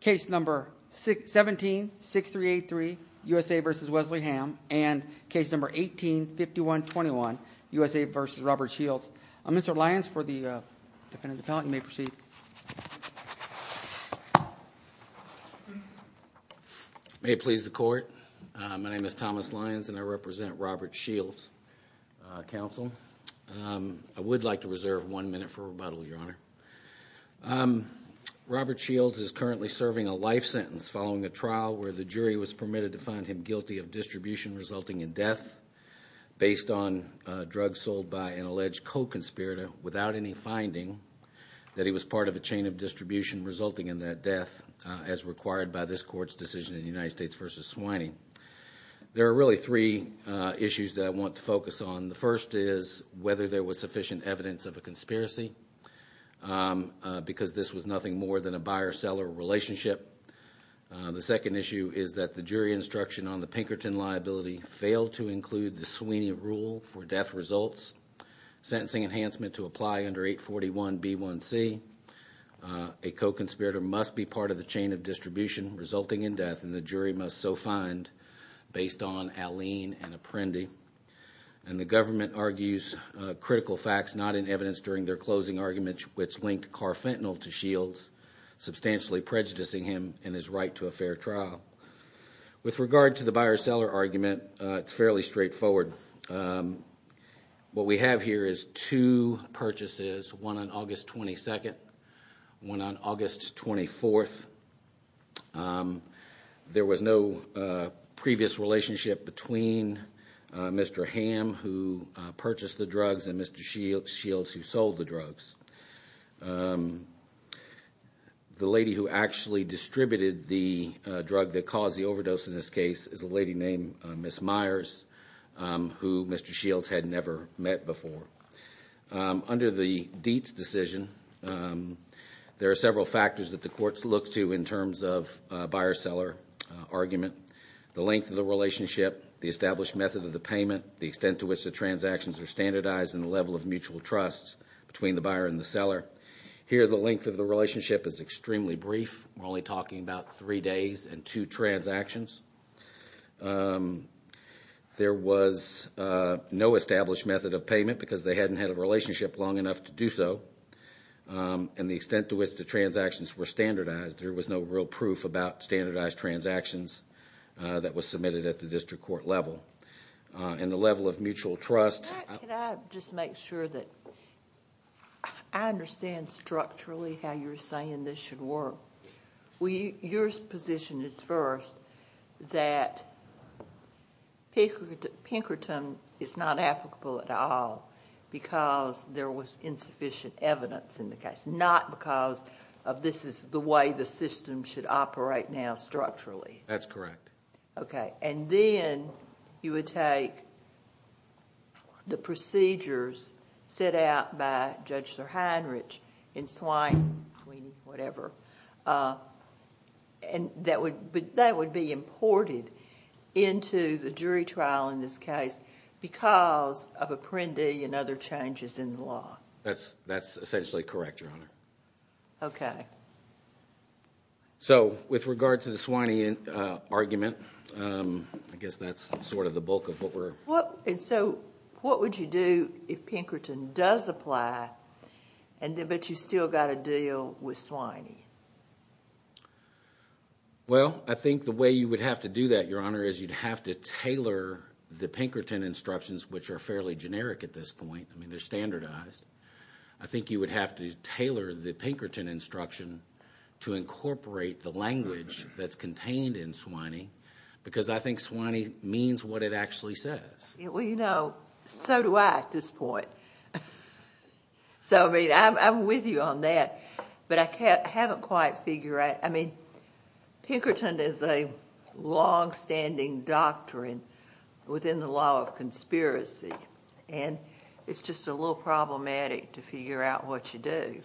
Case No. 17-6383, U.S.A. v. Wesley Hamm and Case No. 18-5121, U.S.A. v. Robert Shields. Mr. Lyons, for the Defendant Appellant, you may proceed. May it please the Court, my name is Thomas Lyons and I represent Robert Shields Counsel. I would like to reserve one minute for rebuttal, Your Honor. Robert Shields is currently serving a life sentence following a trial where the jury was permitted to find him guilty of distribution resulting in death based on drugs sold by an alleged co-conspirator without any finding that he was part of a chain of distribution resulting in that death as required by this Court's decision in the United States v. Swiney. There are really three issues that I want to focus on. The first is whether there was sufficient evidence of a conspiracy because this was nothing more than a buyer-seller relationship. The second issue is that the jury instruction on the Pinkerton liability failed to include the Swiney rule for death results. Sentencing enhancement to apply under 841B1C, a co-conspirator must be part of the chain of distribution resulting in death and the jury must so find based on Alene and Apprendi. And the government argues critical facts not in evidence during their closing argument which linked Carfentanil to Shields, substantially prejudicing him in his right to a fair trial. With regard to the buyer-seller argument, it's fairly straightforward. What we have here is two purchases, one on August 22nd, one on August 24th. There was no previous relationship between Mr. Hamm who purchased the drugs and Mr. Shields who sold the drugs. The lady who actually distributed the drug that caused the overdose in this case is a lady named Ms. Myers who Mr. Shields had never met before. Under the Dietz decision, there are several factors that the courts look to in terms of buyer-seller argument. The length of the relationship, the established method of the payment, the extent to which the transactions are standardized and the level of mutual trust between the buyer and the seller. Here, the length of the relationship is extremely brief. We're only talking about three days and two transactions. There was no established method of payment because they hadn't had a relationship long enough to do so. And the extent to which the transactions were standardized, there was no real proof about standardized transactions that was submitted at the district court level. And the level of mutual trust. Can I just make sure that I understand structurally how you're saying this should work? Your position is first that Pinkerton is not applicable at all because there was insufficient evidence in the case, not because this is the way the system should operate now structurally. That's correct. Okay. And then you would take the procedures set out by Judge Sir Heinrich in Swiney, whatever, and that would be imported into the jury trial in this case because of Apprendi and other changes in the law. That's essentially correct, Your Honor. Okay. So with regard to the Swiney argument, I guess that's sort of the bulk of what we're— And so what would you do if Pinkerton does apply, but you've still got to deal with Swiney? Well, I think the way you would have to do that, Your Honor, is you'd have to tailor the Pinkerton instructions, which are fairly generic at this point. I mean, they're standardized. I think you would have to tailor the Pinkerton instruction to incorporate the language that's contained in Swiney because I think Swiney means what it actually says. Well, you know, so do I at this point. So, I mean, I'm with you on that, but I haven't quite figured out— I mean, Pinkerton is a longstanding doctrine within the law of conspiracy, and it's just a little problematic to figure out what you do.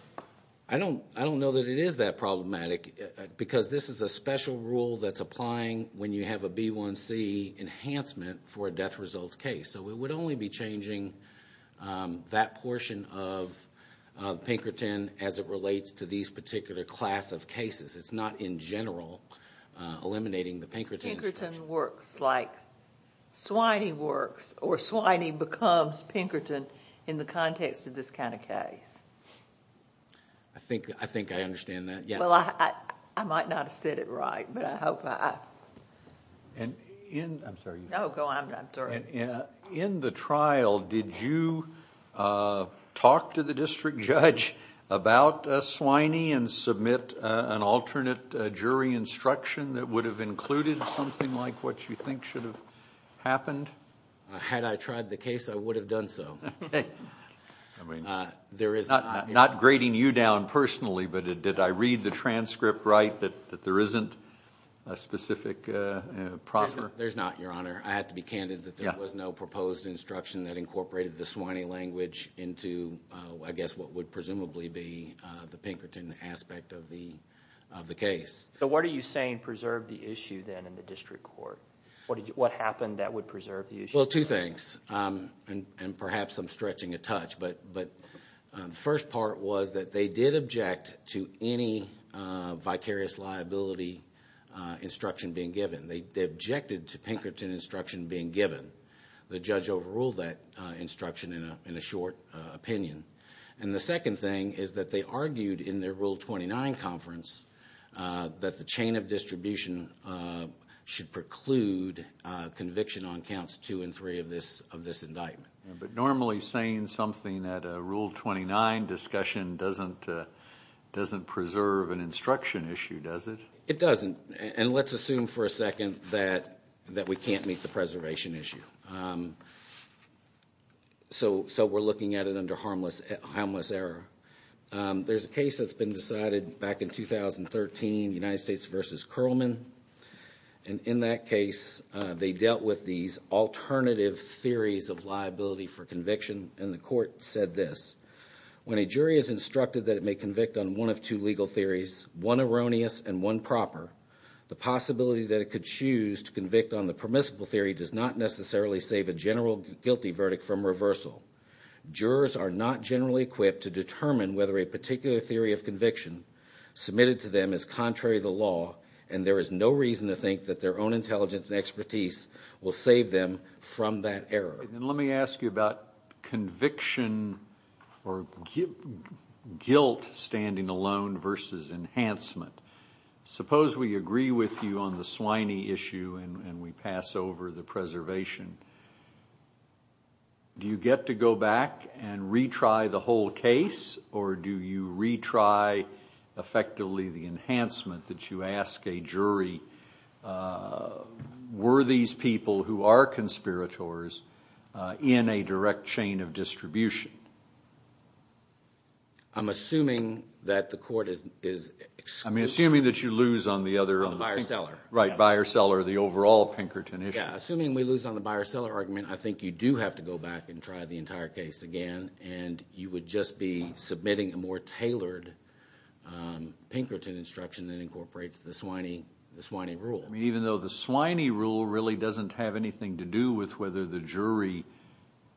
I don't know that it is that problematic because this is a special rule that's applying when you have a B1C enhancement for a death results case. So we would only be changing that portion of Pinkerton as it relates to these particular class of cases. It's not in general eliminating the Pinkerton instruction. Swiney works or Swiney becomes Pinkerton in the context of this kind of case. I think I understand that, yes. Well, I might not have said it right, but I hope I... I'm sorry. No, go on. I'm sorry. In the trial, did you talk to the district judge about Swiney and submit an alternate jury instruction that would have included something like what you think should have happened? Had I tried the case, I would have done so. Not grading you down personally, but did I read the transcript right that there isn't a specific proffer? There's not, Your Honor. I have to be candid that there was no proposed instruction that incorporated the Swiney language into, I guess, what would presumably be the Pinkerton aspect of the case. What are you saying preserved the issue then in the district court? What happened that would preserve the issue? Well, two things, and perhaps I'm stretching a touch. The first part was that they did object to any vicarious liability instruction being given. They objected to Pinkerton instruction being given. The judge overruled that instruction in a short opinion. And the second thing is that they argued in their Rule 29 conference that the chain of distribution should preclude conviction on counts 2 and 3 of this indictment. But normally saying something at a Rule 29 discussion doesn't preserve an instruction issue, does it? It doesn't, and let's assume for a second that we can't meet the preservation issue. So we're looking at it under harmless error. There's a case that's been decided back in 2013, United States v. Curlman. And in that case, they dealt with these alternative theories of liability for conviction, and the court said this. When a jury is instructed that it may convict on one of two legal theories, one erroneous and one proper, the possibility that it could choose to convict on the permissible theory does not necessarily save a general guilty verdict from reversal. Jurors are not generally equipped to determine whether a particular theory of conviction submitted to them is contrary to the law, and there is no reason to think that their own intelligence and expertise will save them from that error. Let me ask you about conviction or guilt standing alone versus enhancement. Suppose we agree with you on the swiney issue and we pass over the preservation. Do you get to go back and retry the whole case, or do you retry effectively the enhancement that you ask a jury, were these people who are conspirators in a direct chain of distribution? I'm assuming that the court is excluded. I mean, assuming that you lose on the other. On the buyer-seller. Right, buyer-seller, the overall Pinkerton issue. Yeah, assuming we lose on the buyer-seller argument, I think you do have to go back and try the entire case again, and you would just be submitting a more tailored Pinkerton instruction that incorporates the swiney rule. I mean, even though the swiney rule really doesn't have anything to do with whether the jury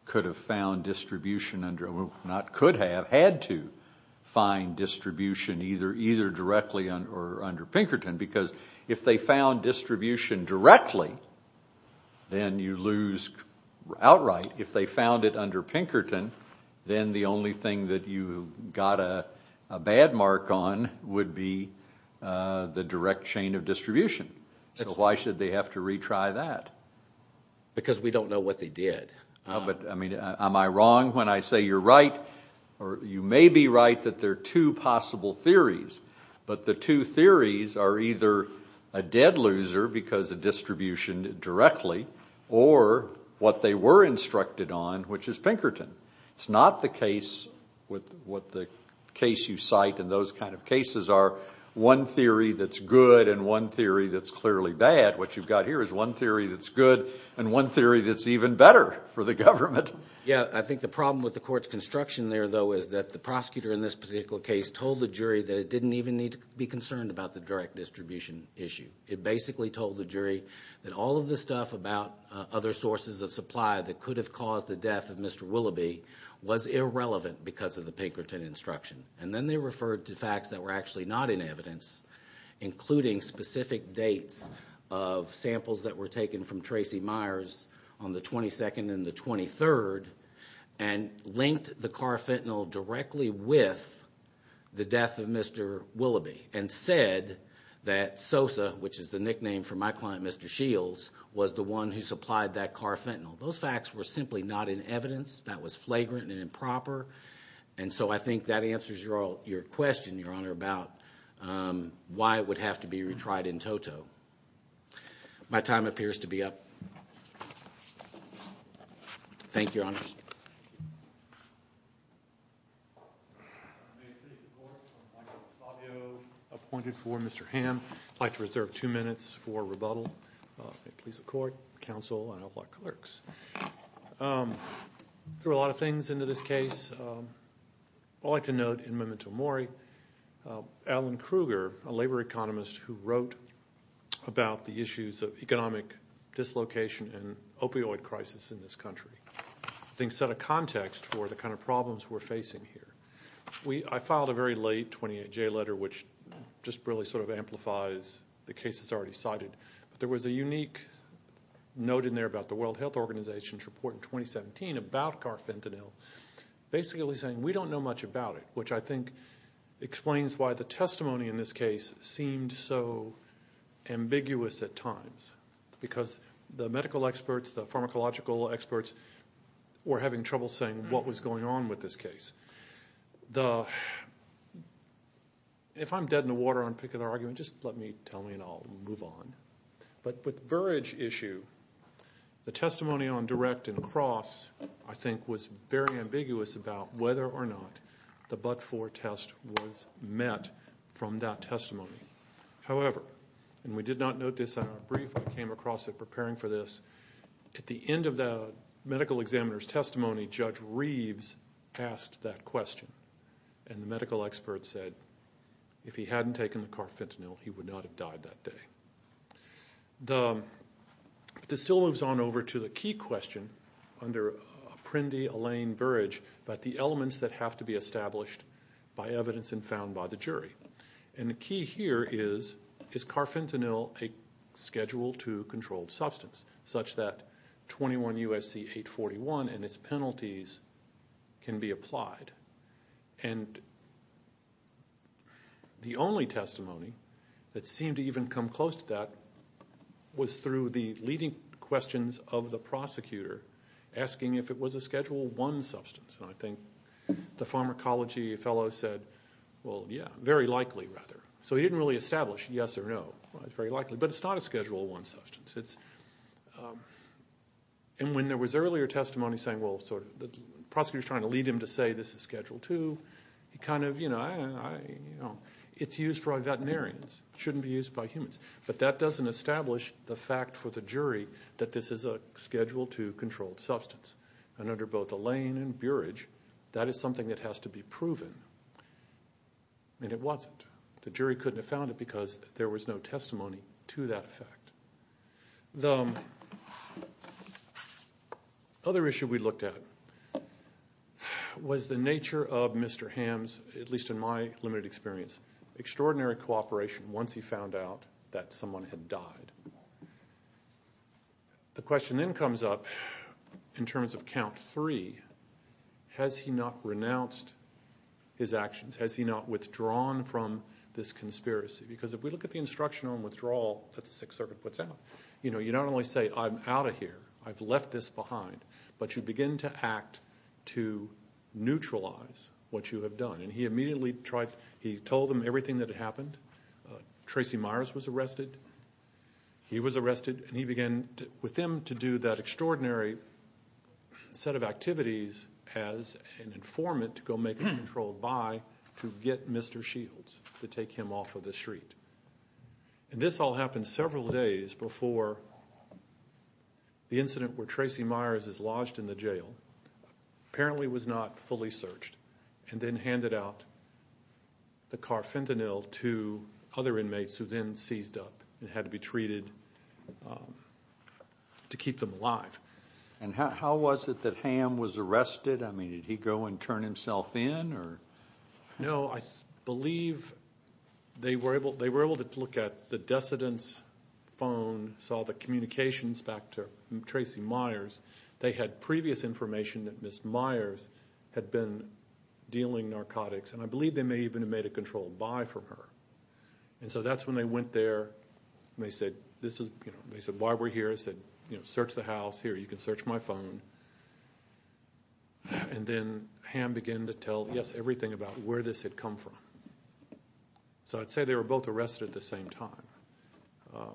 could have found distribution under, or not could have, had to find distribution either directly or under Pinkerton, because if they found distribution directly, then you lose outright. If they found it under Pinkerton, then the only thing that you got a bad mark on would be the direct chain of distribution. So why should they have to retry that? Because we don't know what they did. But, I mean, am I wrong when I say you're right, or you may be right that there are two possible theories, but the two theories are either a dead loser because of distribution directly, or what they were instructed on, which is Pinkerton. It's not the case with what the case you cite and those kind of cases are, one theory that's good and one theory that's clearly bad. What you've got here is one theory that's good and one theory that's even better for the government. Yeah, I think the problem with the court's construction there, though, is that the prosecutor in this particular case told the jury that it didn't even need to be concerned about the direct distribution issue. It basically told the jury that all of the stuff about other sources of supply that could have caused the death of Mr. Willoughby was irrelevant because of the Pinkerton instruction. And then they referred to facts that were actually not in evidence, including specific dates of samples that were taken from Tracy Myers on the 22nd and the 23rd and linked the carfentanil directly with the death of Mr. Willoughby and said that Sosa, which is the nickname for my client, Mr. Shields, was the one who supplied that carfentanil. Those facts were simply not in evidence. That was flagrant and improper. And so I think that answers your question, Your Honor, about why it would have to be retried in toto. My time appears to be up. Thank you, Your Honor. May it please the Court, I'm Michael Savio, appointed for Mr. Hamm. I'd like to reserve two minutes for rebuttal. May it please the Court, counsel, and all of our clerks. There are a lot of things in this case. I'd like to note in memento mori, Alan Kruger, a labor economist, who wrote about the issues of economic dislocation and opioid crisis in this country, I think set a context for the kind of problems we're facing here. I filed a very late 28J letter, which just really sort of amplifies the cases already cited. There was a unique note in there about the World Health Organization's report in 2017 about carfentanil, basically saying we don't know much about it, which I think explains why the testimony in this case seemed so ambiguous at times, because the medical experts, the pharmacological experts were having trouble saying what was going on with this case. If I'm dead in the water on a particular argument, just let me tell me and I'll move on. But with the Burridge issue, the testimony on direct and cross, I think, was very ambiguous about whether or not the but-for test was met from that testimony. However, and we did not note this in our brief when we came across it preparing for this, at the end of the medical examiner's testimony, Judge Reeves asked that question, and the medical expert said if he hadn't taken the carfentanil, he would not have died that day. This still moves on over to the key question under Apprendi-Allen-Burridge about the elements that have to be established by evidence and found by the jury. And the key here is, is carfentanil a Schedule II controlled substance, such that 21 U.S.C. 841 and its penalties can be applied? And the only testimony that seemed to even come close to that was through the leading questions of the prosecutor asking if it was a Schedule I substance. And I think the pharmacology fellow said, well, yeah, very likely rather. So he didn't really establish yes or no. It's very likely, but it's not a Schedule I substance. And when there was earlier testimony saying, well, the prosecutor's trying to lead him to say this is Schedule II, he kind of, you know, it's used by veterinarians. It shouldn't be used by humans. But that doesn't establish the fact for the jury that this is a Schedule II controlled substance. And under both Alain and Burridge, that is something that has to be proven. And it wasn't. The jury couldn't have found it because there was no testimony to that fact. The other issue we looked at was the nature of Mr. Ham's, at least in my limited experience, extraordinary cooperation once he found out that someone had died. The question then comes up in terms of Count III, has he not renounced his actions? Has he not withdrawn from this conspiracy? Because if we look at the instruction on withdrawal that the Sixth Circuit puts out, you know, you not only say I'm out of here, I've left this behind, but you begin to act to neutralize what you have done. And he immediately tried, he told them everything that had happened. Tracy Myers was arrested. He was arrested, and he began with them to do that extraordinary set of activities as an informant to go make a controlled buy to get Mr. Shields to take him off of the street. And this all happened several days before the incident where Tracy Myers is lodged in the jail and apparently was not fully searched, and then handed out the carfentanil to other inmates who then seized up and had to be treated to keep them alive. And how was it that Ham was arrested? I mean, did he go and turn himself in? No, I believe they were able to look at the decedent's phone, saw the communications back to Tracy Myers. They had previous information that Ms. Myers had been dealing narcotics, and I believe they may even have made a controlled buy from her. And so that's when they went there and they said, you know, they said, while we're here, search the house. Here, you can search my phone. And then Ham began to tell, yes, everything about where this had come from. So I'd say they were both arrested at the same time.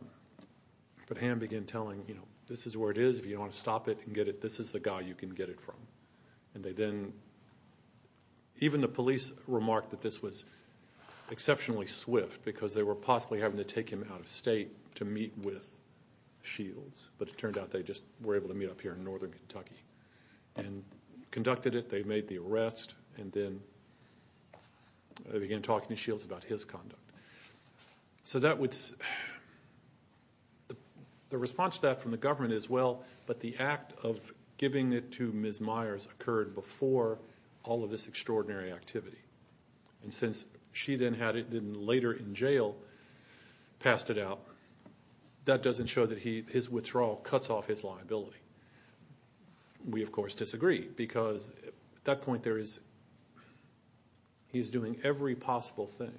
But Ham began telling, you know, this is where it is. If you don't want to stop it and get it, this is the guy you can get it from. And they then, even the police remarked that this was exceptionally swift because they were possibly having to take him out of state to meet with Shields, but it turned out they just were able to meet up here in northern Kentucky and conducted it, they made the arrest, and then they began talking to Shields about his conduct. So the response to that from the government is, well, but the act of giving it to Ms. Myers occurred before all of this extraordinary activity. And since she then later in jail passed it out, that doesn't show that his withdrawal cuts off his liability. We, of course, disagree because at that point, he's doing every possible thing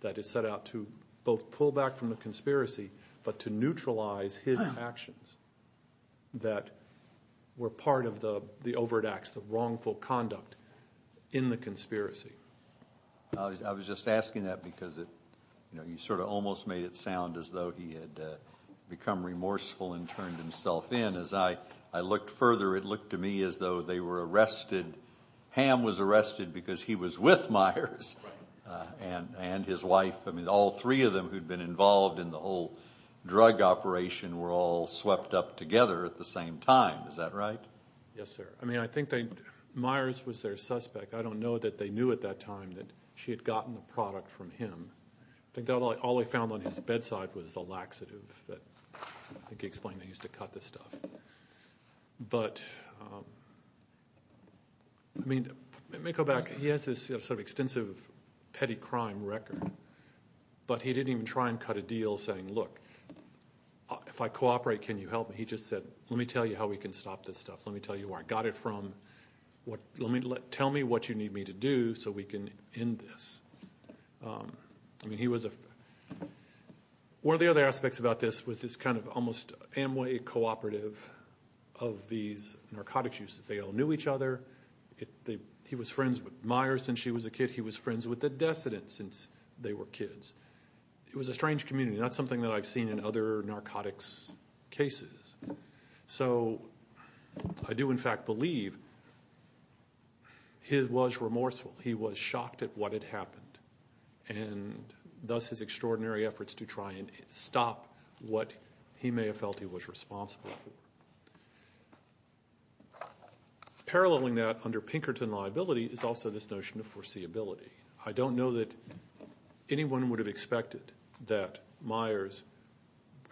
that is set out to both pull back from the conspiracy but to neutralize his actions that were part of the overt acts, the wrongful conduct in the conspiracy. I was just asking that because you sort of almost made it sound as though he had become remorseful and turned himself in. As I looked further, it looked to me as though they were arrested. Ham was arrested because he was with Myers and his wife. I mean, all three of them who'd been involved in the whole drug operation were all swept up together at the same time. Is that right? Yes, sir. I mean, I think that Myers was their suspect. I don't know that they knew at that time that she had gotten the product from him. I think all they found on his bedside was the laxative that I think he explained they used to cut this stuff. But, I mean, let me go back. He has this sort of extensive petty crime record, but he didn't even try and cut a deal saying, look, if I cooperate, can you help me? He just said, let me tell you how we can stop this stuff. Let me tell you where I got it from. Tell me what you need me to do so we can end this. I mean, one of the other aspects about this was this kind of almost Amway cooperative of these narcotics users. They all knew each other. He was friends with Myers since she was a kid. He was friends with the decedent since they were kids. It was a strange community. That's something that I've seen in other narcotics cases. So I do, in fact, believe he was remorseful. He was shocked at what had happened, and thus his extraordinary efforts to try and stop what he may have felt he was responsible for. Paralleling that under Pinkerton liability is also this notion of foreseeability. I don't know that anyone would have expected that Myers,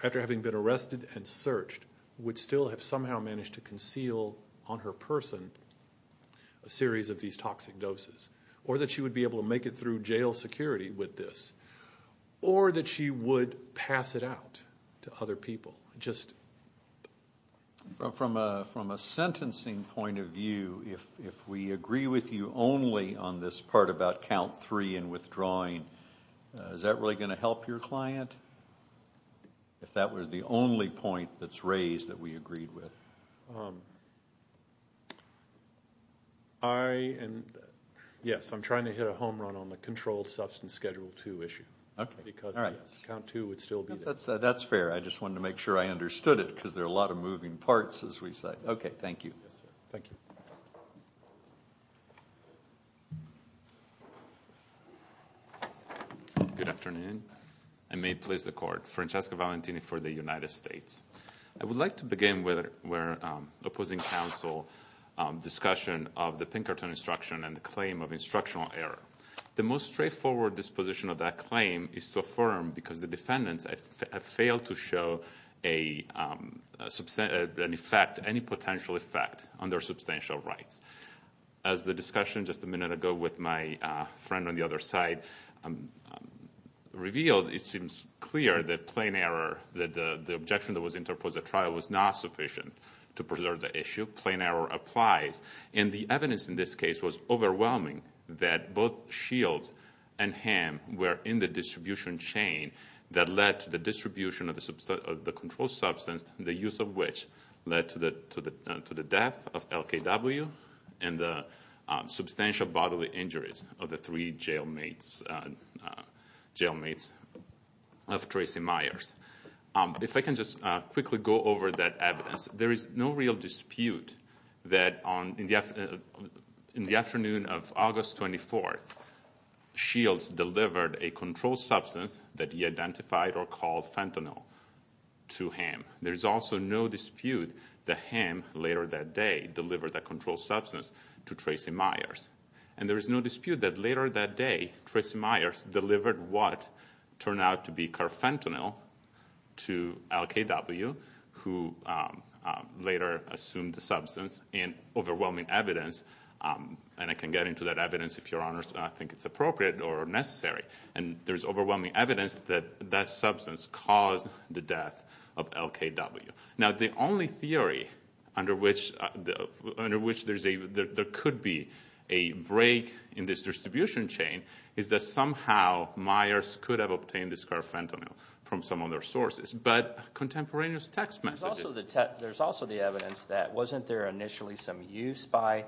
after having been arrested and searched, would still have somehow managed to conceal on her person a series of these toxic doses, or that she would be able to make it through jail security with this, or that she would pass it out to other people. From a sentencing point of view, if we agree with you only on this part about count three and withdrawing, is that really going to help your client? If that were the only point that's raised that we agreed with. Yes, I'm trying to hit a home run on the controlled substance schedule two issue. Okay. Because count two would still be there. That's fair. I just wanted to make sure I understood it because there are a lot of moving parts, as we said. Okay, thank you. Thank you. Good afternoon. I may please the court. Francesca Valentini for the United States. I would like to begin with opposing counsel discussion of the Pinkerton instruction and the claim of instructional error. The most straightforward disposition of that claim is to affirm, because the defendants have failed to show any potential effect on their substantial rights. As the discussion just a minute ago with my friend on the other side revealed, it seems clear that plain error, that the objection that was interposed at trial was not sufficient to preserve the issue. Plain error applies. And the evidence in this case was overwhelming, that both Shields and Hamm were in the distribution chain that led to the distribution of the controlled substance, the use of which led to the death of LKW and the substantial bodily injuries of the three jailmates of Tracy Myers. If I can just quickly go over that evidence, there is no real dispute that in the afternoon of August 24th, Shields delivered a controlled substance that he identified or called fentanyl to Hamm. There is also no dispute that Hamm, later that day, delivered that controlled substance to Tracy Myers. And there is no dispute that later that day, Tracy Myers delivered what turned out to be carfentanil to LKW, who later assumed the substance in overwhelming evidence. And I can get into that evidence if Your Honors think it's appropriate or necessary. And there's overwhelming evidence that that substance caused the death of LKW. Now the only theory under which there could be a break in this distribution chain is that somehow Myers could have obtained this carfentanil from some other sources. But contemporaneous text messages. There's also the evidence that wasn't there initially some use by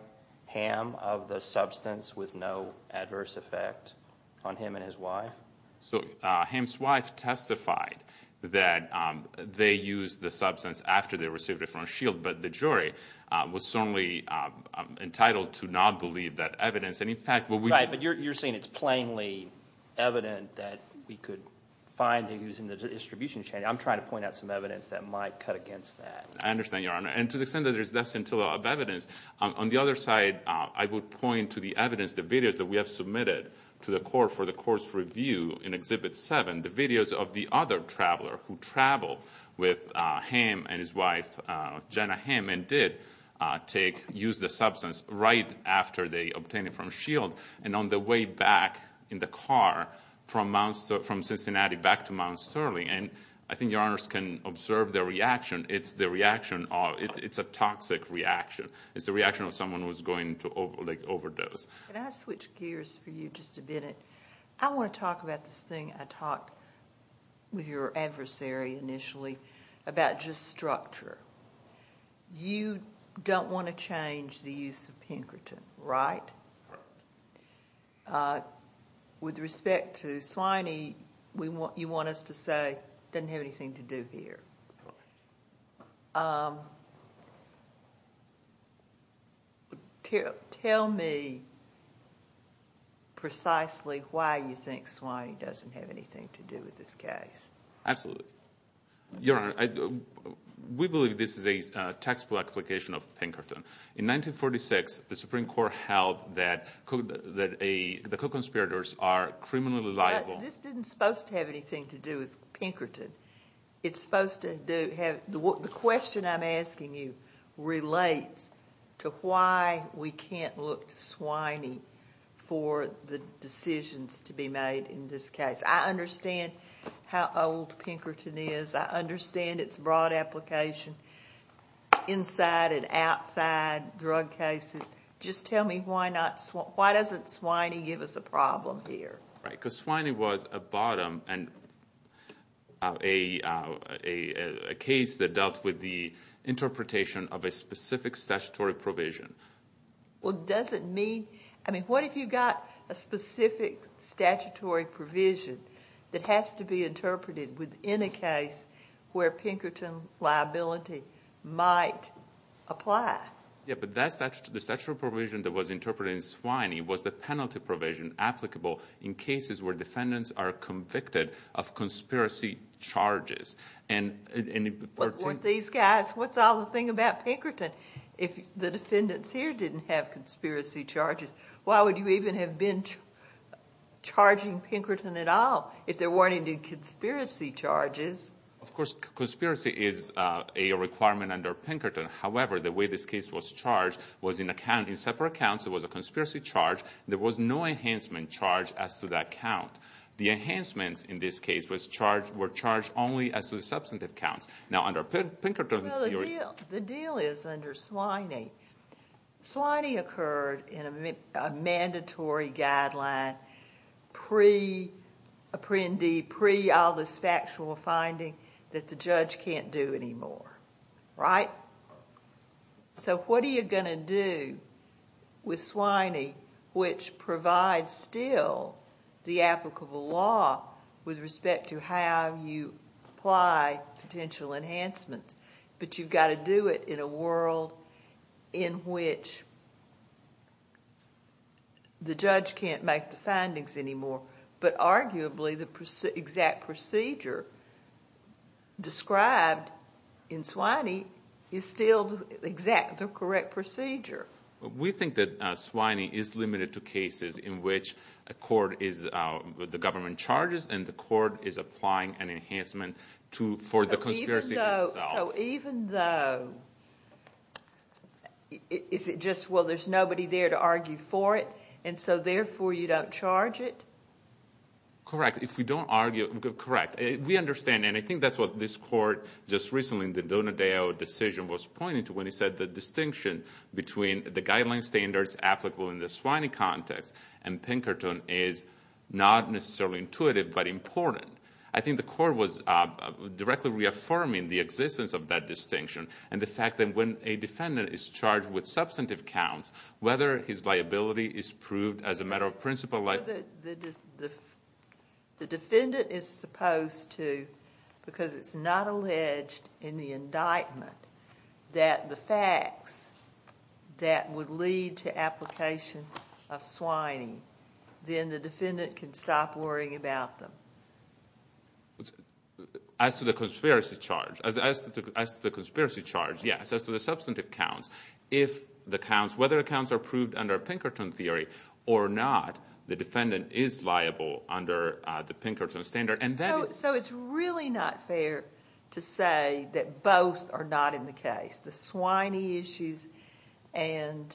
Hamm of the substance with no adverse effect on him and his wife? So Hamm's wife testified that they used the substance after they received it from Shields, but the jury was certainly entitled to not believe that evidence. Right, but you're saying it's plainly evident that we could find the use in the distribution chain. I'm trying to point out some evidence that might cut against that. I understand, Your Honor. And to the extent that there's less than two of evidence, on the other side I would point to the evidence, the videos that we have submitted to the court for the court's review in Exhibit 7. The videos of the other traveler who traveled with Hamm and his wife, Jenna Hamm, and did use the substance right after they obtained it from Shields and on the way back in the car from Cincinnati back to Mount Sterling. And I think Your Honors can observe the reaction. It's a toxic reaction. It's the reaction of someone who's going to overdose. Can I switch gears for you just a minute? I want to talk about this thing I talked with your adversary initially about just structure. You don't want to change the use of Pinkerton, right? With respect to Swiney, you want us to say it doesn't have anything to do here. Tell me precisely why you think Swiney doesn't have anything to do with this case. Absolutely. Your Honor, we believe this is a taxable application of Pinkerton. In 1946, the Supreme Court held that the co-conspirators are criminally liable. This isn't supposed to have anything to do with Pinkerton. The question I'm asking you relates to why we can't look to Swiney for the decisions to be made in this case. I understand how old Pinkerton is. I understand its broad application inside and outside drug cases. Just tell me why doesn't Swiney give us a problem here? Swiney was a case that dealt with the interpretation of a specific statutory provision. What if you've got a specific statutory provision that has to be interpreted within a case where Pinkerton liability might apply? The statutory provision that was interpreted in Swiney was the penalty provision applicable in cases where defendants are convicted of conspiracy charges. What's all the thing about Pinkerton? If the defendants here didn't have conspiracy charges, why would you even have been charging Pinkerton at all if there weren't any conspiracy charges? Of course, conspiracy is a requirement under Pinkerton. However, the way this case was charged was in separate accounts. It was a conspiracy charge. There was no enhancement charge as to that count. The enhancements in this case were charged only as to the substantive counts. Now, under Pinkerton's theory— The deal is under Swiney, Swiney occurred in a mandatory guideline pre-Indy, pre-all this factual finding that the judge can't do anymore, right? What are you going to do with Swiney, which provides still the applicable law with respect to how you apply potential enhancements, but you've got to do it in a world in which the judge can't make the findings anymore, but arguably the exact procedure described in Swiney is still the exact, the correct procedure. We think that Swiney is limited to cases in which the government charges and the court is applying an enhancement for the conspiracy itself. Even though, is it just, well, there's nobody there to argue for it, and so therefore you don't charge it? Correct. If we don't argue, correct. We understand, and I think that's what this court just recently in the Donadale decision was pointing to when he said the distinction between the guideline standards applicable in the Swiney context and Pinkerton is not necessarily intuitive, but important. I think the court was directly reaffirming the existence of that distinction and the fact that when a defendant is charged with substantive counts, whether his liability is proved as a matter of principle. The defendant is supposed to, because it's not alleged in the indictment, that the facts that would lead to application of Swiney, then the defendant can stop worrying about them. As to the conspiracy charge, yes, as to the substantive counts, if the counts, whether the counts are proved under Pinkerton theory or not, the defendant is liable under the Pinkerton standard, and that is... So it's really not fair to say that both are not in the case, the Swiney issues and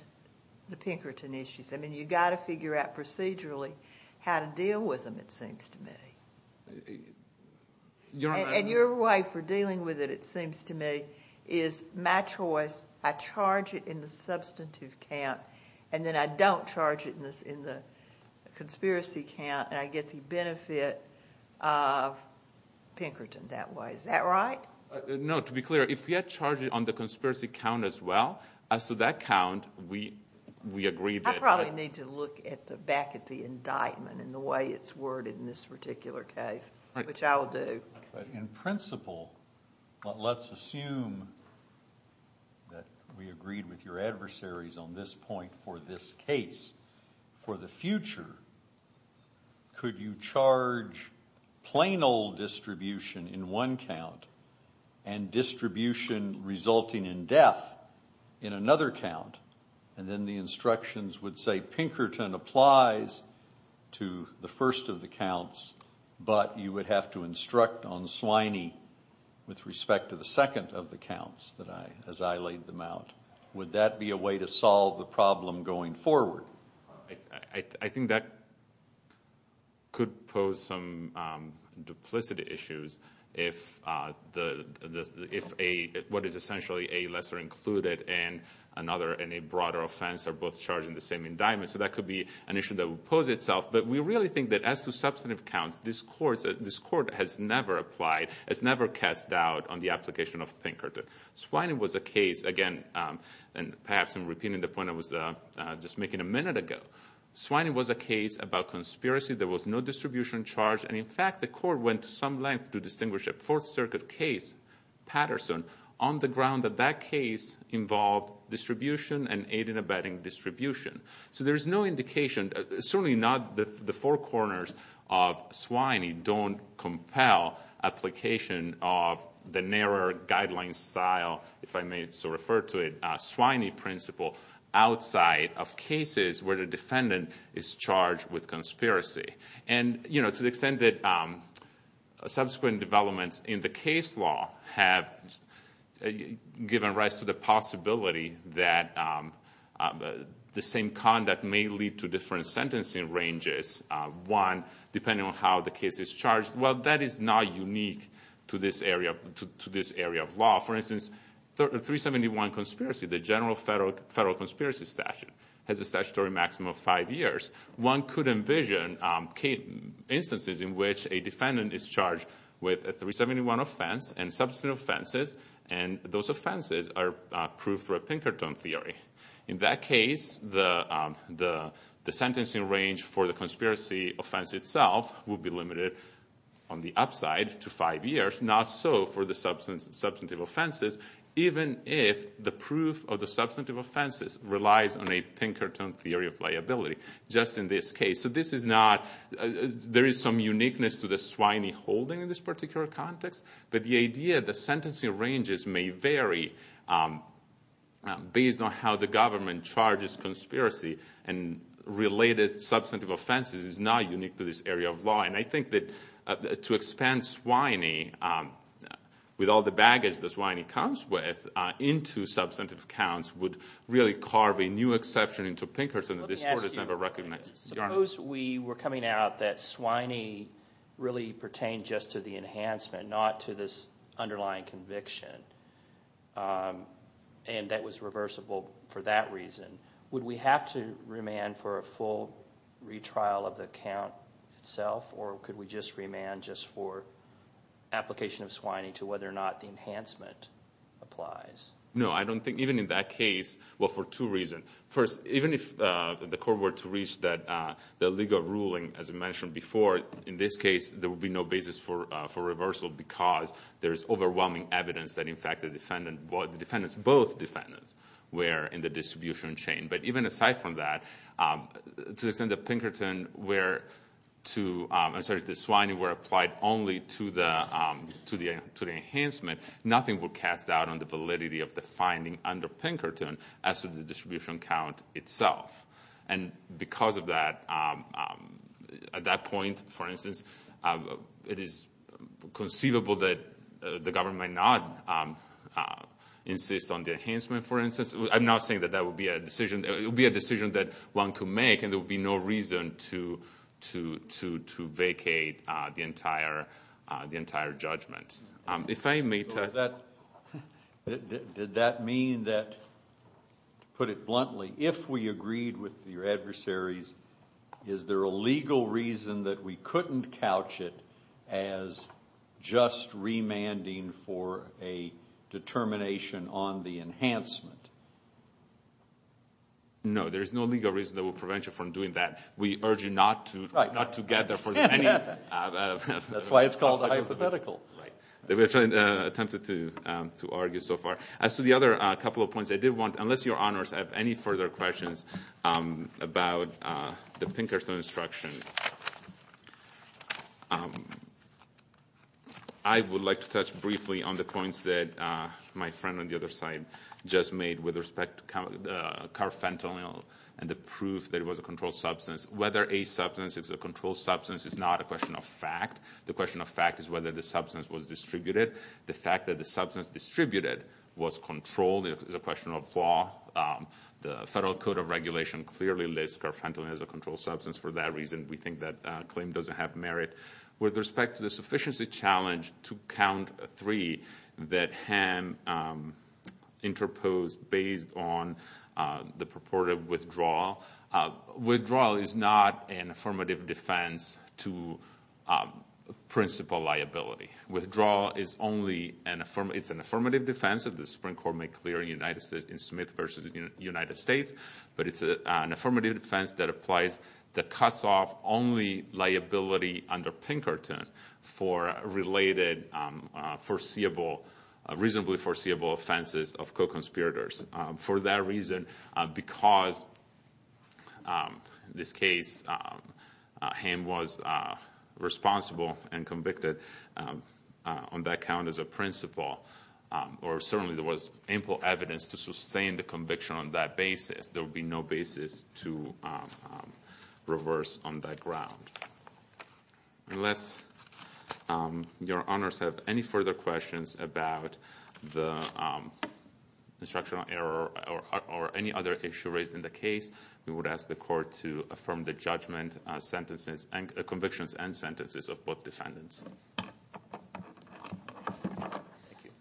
the Pinkerton issues. I mean, you've got to figure out procedurally how to deal with them, it seems to me. And your way for dealing with it, it seems to me, is my choice. I charge it in the substantive count, and then I don't charge it in the conspiracy count, and I get the benefit of Pinkerton that way. Is that right? No, to be clear, if we had charged it on the conspiracy count as well, as to that count, we agreed it. I probably need to look back at the indictment and the way it's worded in this particular case, which I will do. In principle, let's assume that we agreed with your adversaries on this point for this case. For the future, could you charge plain old distribution in one count and distribution resulting in death in another count, and then the instructions would say Pinkerton applies to the first of the counts, but you would have to instruct on Swiney with respect to the second of the counts as I laid them out? Would that be a way to solve the problem going forward? I think that could pose some duplicity issues if what is essentially a lesser included and a broader offense are both charged in the same indictment, so that could be an issue that would pose itself, but we really think that as to substantive counts, this Court has never applied, has never cast doubt on the application of Pinkerton. Swiney was a case, again, and perhaps I'm repeating the point I was just making a minute ago. Swiney was a case about conspiracy. There was no distribution charge, and in fact the Court went to some length to distinguish a Fourth Circuit case, Patterson, on the ground that that case involved distribution and aid in abetting distribution. So there is no indication, certainly not the four corners of Swiney, don't compel application of the narrower guideline style, if I may so refer to it, Swiney principle outside of cases where the defendant is charged with conspiracy. To the extent that subsequent developments in the case law have given rise to the possibility that the same conduct may lead to different sentencing ranges, one, depending on how the case is charged, well, that is not unique to this area of law. For instance, 371 conspiracy, the general federal conspiracy statute, has a statutory maximum of five years. One could envision instances in which a defendant is charged with a 371 offense and substantive offenses, and those offenses are proof for a Pinkerton theory. In that case, the sentencing range for the conspiracy offense itself would be limited on the upside to five years, not so for the substantive offenses, even if the proof of the substantive offenses relies on a Pinkerton theory of liability. Just in this case. So this is not, there is some uniqueness to the Swiney holding in this particular context, but the idea the sentencing ranges may vary based on how the government charges conspiracy and related substantive offenses is not unique to this area of law. And I think that to expand Swiney with all the baggage that Swiney comes with into substantive counts would really carve a new exception into Pinkerton that this Court has never recognized. Suppose we were coming out that Swiney really pertained just to the enhancement, not to this underlying conviction, and that was reversible for that reason. Would we have to remand for a full retrial of the count itself, or could we just remand just for application of Swiney to whether or not the enhancement applies? No, I don't think, even in that case, well, for two reasons. First, even if the Court were to reach the legal ruling, as I mentioned before, in this case there would be no basis for reversal because there is overwhelming evidence that in fact both defendants were in the distribution chain. But even aside from that, to the extent that Swiney were applied only to the enhancement, nothing would cast doubt on the validity of the finding under Pinkerton as to the distribution count itself. And because of that, at that point, for instance, it is conceivable that the government might not insist on the enhancement, for instance. I'm not saying that that would be a decision that one could make and there would be no reason to vacate the entire judgment. Did that mean that, to put it bluntly, if we agreed with your adversaries, is there a legal reason that we couldn't couch it as just remanding for a determination on the enhancement? No, there is no legal reason that would prevent you from doing that. We urge you not to get there for any... We have attempted to argue so far. As to the other couple of points, I did want, unless Your Honors have any further questions about the Pinkerton instruction, I would like to touch briefly on the points that my friend on the other side just made with respect to carfentanil and the proof that it was a controlled substance. Whether a substance is a controlled substance is not a question of fact. The question of fact is whether the substance was distributed. The fact that the substance distributed was controlled is a question of law. The Federal Code of Regulation clearly lists carfentanil as a controlled substance. For that reason, we think that claim doesn't have merit. With respect to the sufficiency challenge to Count 3 that Ham interposed based on the purported withdrawal, withdrawal is not an affirmative defense to principal liability. Withdrawal is only an affirmative defense. The Supreme Court made clear in Smith v. United States, but it's an affirmative defense that applies, that cuts off only liability under Pinkerton for related foreseeable, reasonably foreseeable offenses of co-conspirators. For that reason, because in this case Ham was responsible and convicted on that count as a principal, or certainly there was ample evidence to sustain the conviction on that basis, there would be no basis to reverse on that ground. Unless your honors have any further questions about the instructional error or any other issue raised in the case, we would ask the court to affirm the judgment, convictions, and sentences of both defendants. Thank you.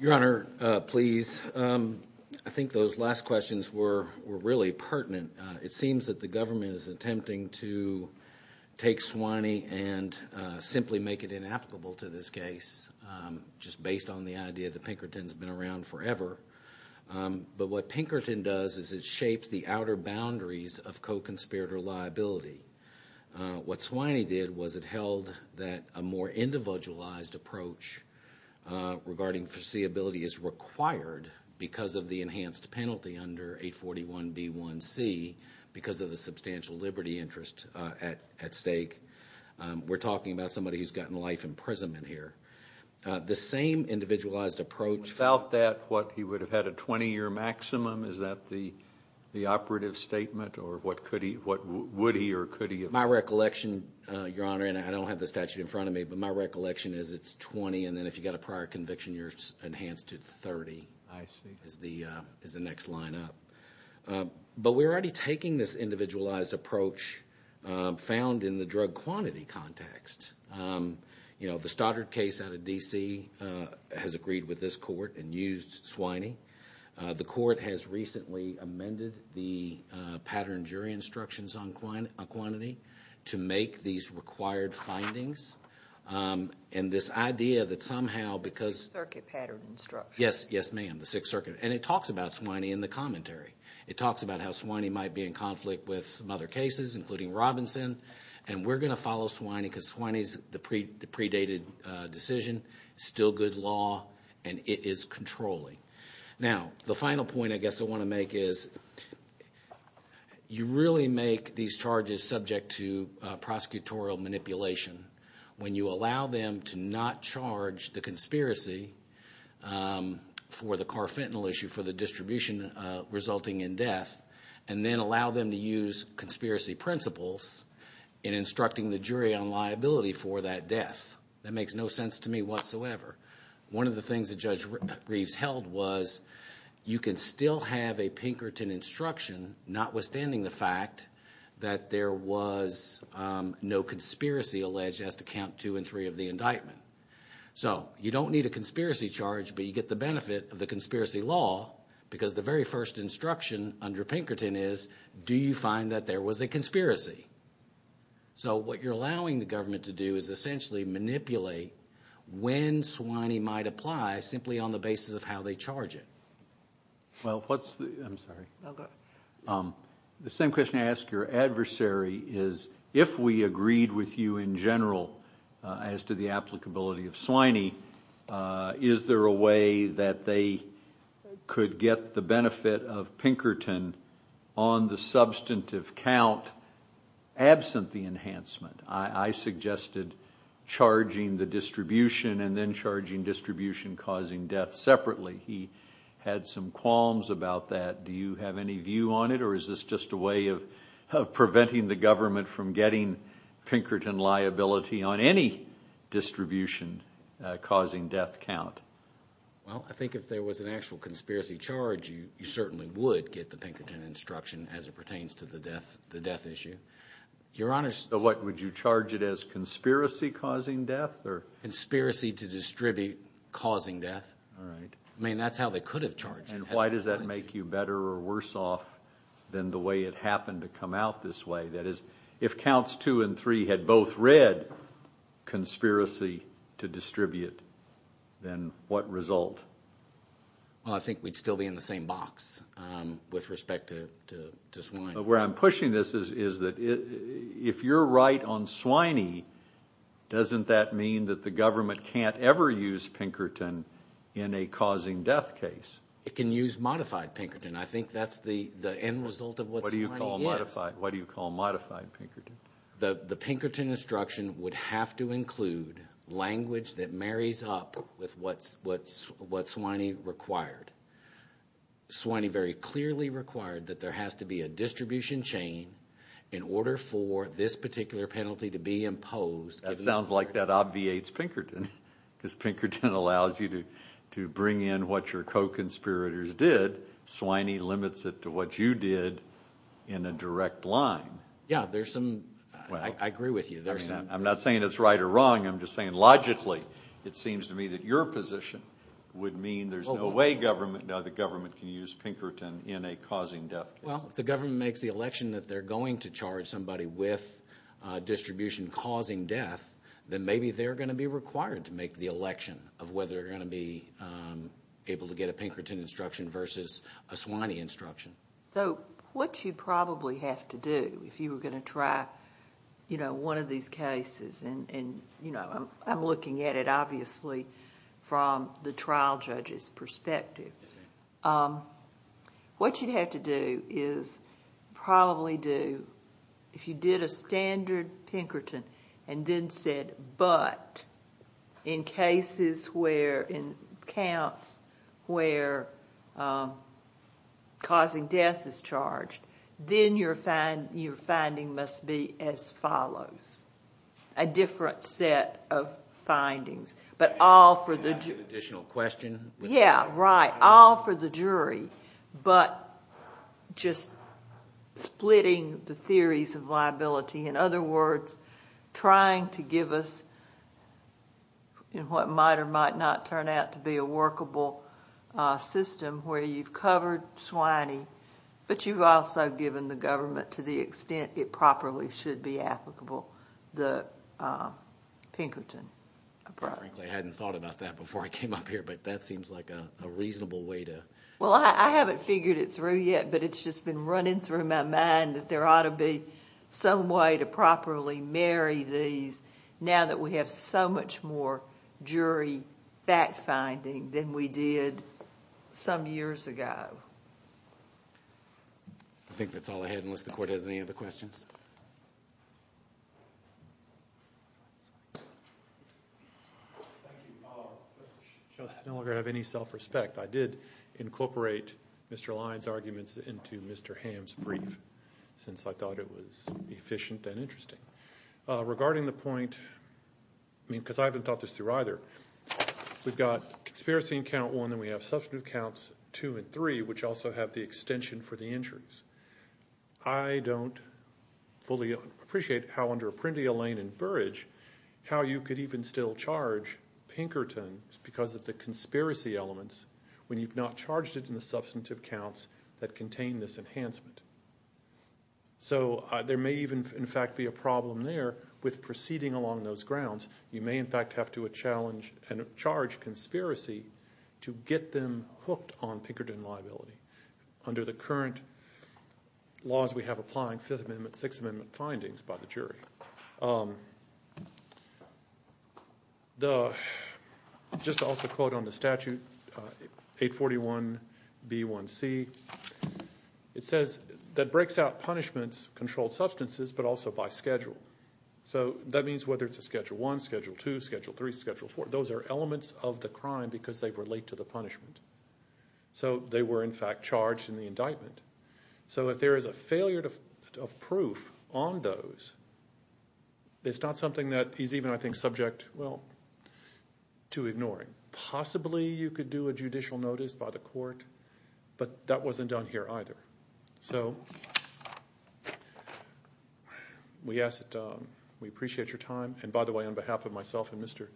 Your honor, please. I think those last questions were really pertinent. It seems that the government is attempting to take Swanee and simply make it inapplicable to this case, just based on the idea that Pinkerton has been around forever. But what Pinkerton does is it shapes the outer boundaries of co-conspirator liability. What Swanee did was it held that a more individualized approach regarding foreseeability is required because of the enhanced penalty under 841B1C because of the substantial liberty interest at stake. We're talking about somebody who's gotten life imprisonment here. The same individualized approach Without that, what, he would have had a 20-year maximum? Is that the operative statement, or what would he or could he have? My recollection, your honor, and I don't have the statute in front of me, but my recollection is it's 20, and then if you've got a prior conviction, you're enhanced to 30. I see. Is the next line up. But we're already taking this individualized approach found in the drug quantity context. The Stoddard case out of D.C. has agreed with this court and used Swanee. The court has recently amended the pattern jury instructions on quantity to make these required findings, and this idea that somehow because The Sixth Circuit pattern instructions. Yes, ma'am, the Sixth Circuit, and it talks about Swanee in the commentary. It talks about how Swanee might be in conflict with some other cases, including Robinson, and we're going to follow Swanee because Swanee is the predated decision. Still good law, and it is controlling. Now, the final point I guess I want to make is you really make these charges subject to prosecutorial manipulation when you allow them to not charge the conspiracy for the Carfentanil issue for the distribution resulting in death, and then allow them to use conspiracy principles in instructing the jury on liability for that death. That makes no sense to me whatsoever. One of the things that Judge Reeves held was you can still have a Pinkerton instruction, notwithstanding the fact that there was no conspiracy alleged as to count two and three of the indictment. So you don't need a conspiracy charge, but you get the benefit of the conspiracy law because the very first instruction under Pinkerton is do you find that there was a conspiracy? So what you're allowing the government to do is essentially manipulate when Swanee might apply simply on the basis of how they charge it. Well, what's the... I'm sorry. The same question I ask your adversary is if we agreed with you in general as to the applicability of Swanee, is there a way that they could get the benefit of Pinkerton on the substantive count absent the enhancement? I suggested charging the distribution and then charging distribution causing death separately. He had some qualms about that. Do you have any view on it, or is this just a way of preventing the government from getting Pinkerton liability on any distribution causing death count? Well, I think if there was an actual conspiracy charge, you certainly would get the Pinkerton instruction as it pertains to the death issue. Your Honor... So what, would you charge it as conspiracy causing death? Conspiracy to distribute causing death. All right. I mean, that's how they could have charged it. And why does that make you better or worse off than the way it happened to come out this way? That is, if counts two and three had both read conspiracy to distribute, then what result? Well, I think we'd still be in the same box with respect to Swinee. But where I'm pushing this is that if you're right on Swinee, doesn't that mean that the government can't ever use Pinkerton in a causing death case? It can use modified Pinkerton. I think that's the end result of what Swinee is. What do you call modified Pinkerton? The Pinkerton instruction would have to include language that marries up with what Swinee required. Swinee very clearly required that there has to be a distribution chain in order for this particular penalty to be imposed. That sounds like that obviates Pinkerton because Pinkerton allows you to bring in what your co-conspirators did. Swinee limits it to what you did in a direct line. Yeah, I agree with you. I'm not saying it's right or wrong. I'm just saying logically it seems to me that your position would mean there's no way the government can use Pinkerton in a causing death case. Well, if the government makes the election that they're going to charge somebody with distribution causing death, then maybe they're going to be required to make the election of whether they're going to be able to get a Pinkerton instruction versus a Swinee instruction. What you probably have to do if you were going to try one of these cases... I'm looking at it obviously from the trial judge's perspective. Yes, ma'am. What you'd have to do is probably do... in counts where causing death is charged, then your finding must be as follows. A different set of findings, but all for the... You can ask an additional question. Yeah, right. All for the jury, but just splitting the theories of liability. In other words, trying to give us what might or might not turn out to be a workable system where you've covered Swinee, but you've also given the government to the extent it properly should be applicable the Pinkerton approach. Frankly, I hadn't thought about that before I came up here, but that seems like a reasonable way to... Well, I haven't figured it through yet, but it's just been running through my mind that there ought to be some way to properly marry these now that we have so much more jury fact-finding than we did some years ago. I think that's all I had, unless the Court has any other questions. Thank you. I no longer have any self-respect. I did incorporate Mr. Lyon's arguments into Mr. Hamm's brief, since I thought it was efficient and interesting. Regarding the point... I mean, because I haven't thought this through either. We've got conspiracy in count one, then we have substantive counts two and three, which also have the extension for the injuries. I don't fully appreciate how under Apprendi, Allain, and Burrage, how you could even still charge Pinkerton because of the conspiracy elements when you've not charged it in the substantive counts that contain this enhancement. So there may even, in fact, be a problem there with proceeding along those grounds. You may, in fact, have to challenge and charge conspiracy to get them hooked on Pinkerton liability under the current laws we have applying Fifth Amendment, Sixth Amendment findings by the jury. Just to also quote on the statute, 841B1C, it says, that breaks out punishments, controlled substances, but also by schedule. So that means whether it's a Schedule I, Schedule II, Schedule III, Schedule IV. Those are elements of the crime because they relate to the punishment. So they were, in fact, charged in the indictment. So if there is a failure of proof on those, it's not something that he's even, I think, subject to ignoring. Possibly you could do a judicial notice by the court, but that wasn't done here either. So we appreciate your time. And by the way, on behalf of myself and Mr.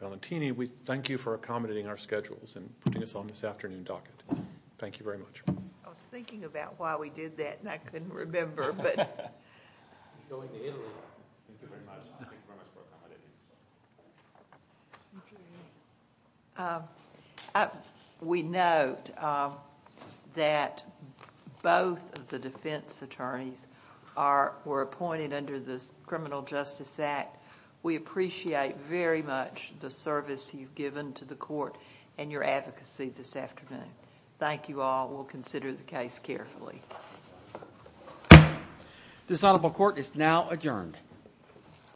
Valentini, we thank you for accommodating our schedules and putting us on this afternoon docket. Thank you very much. I was thinking about why we did that, and I couldn't remember. Thank you very much. Thank you very much for accommodating. We note that both of the defense attorneys were appointed under the Criminal Justice Act. We appreciate very much the service you've given to the court and your advocacy this afternoon. Thank you all. We'll consider the case carefully. This honorable court is now adjourned.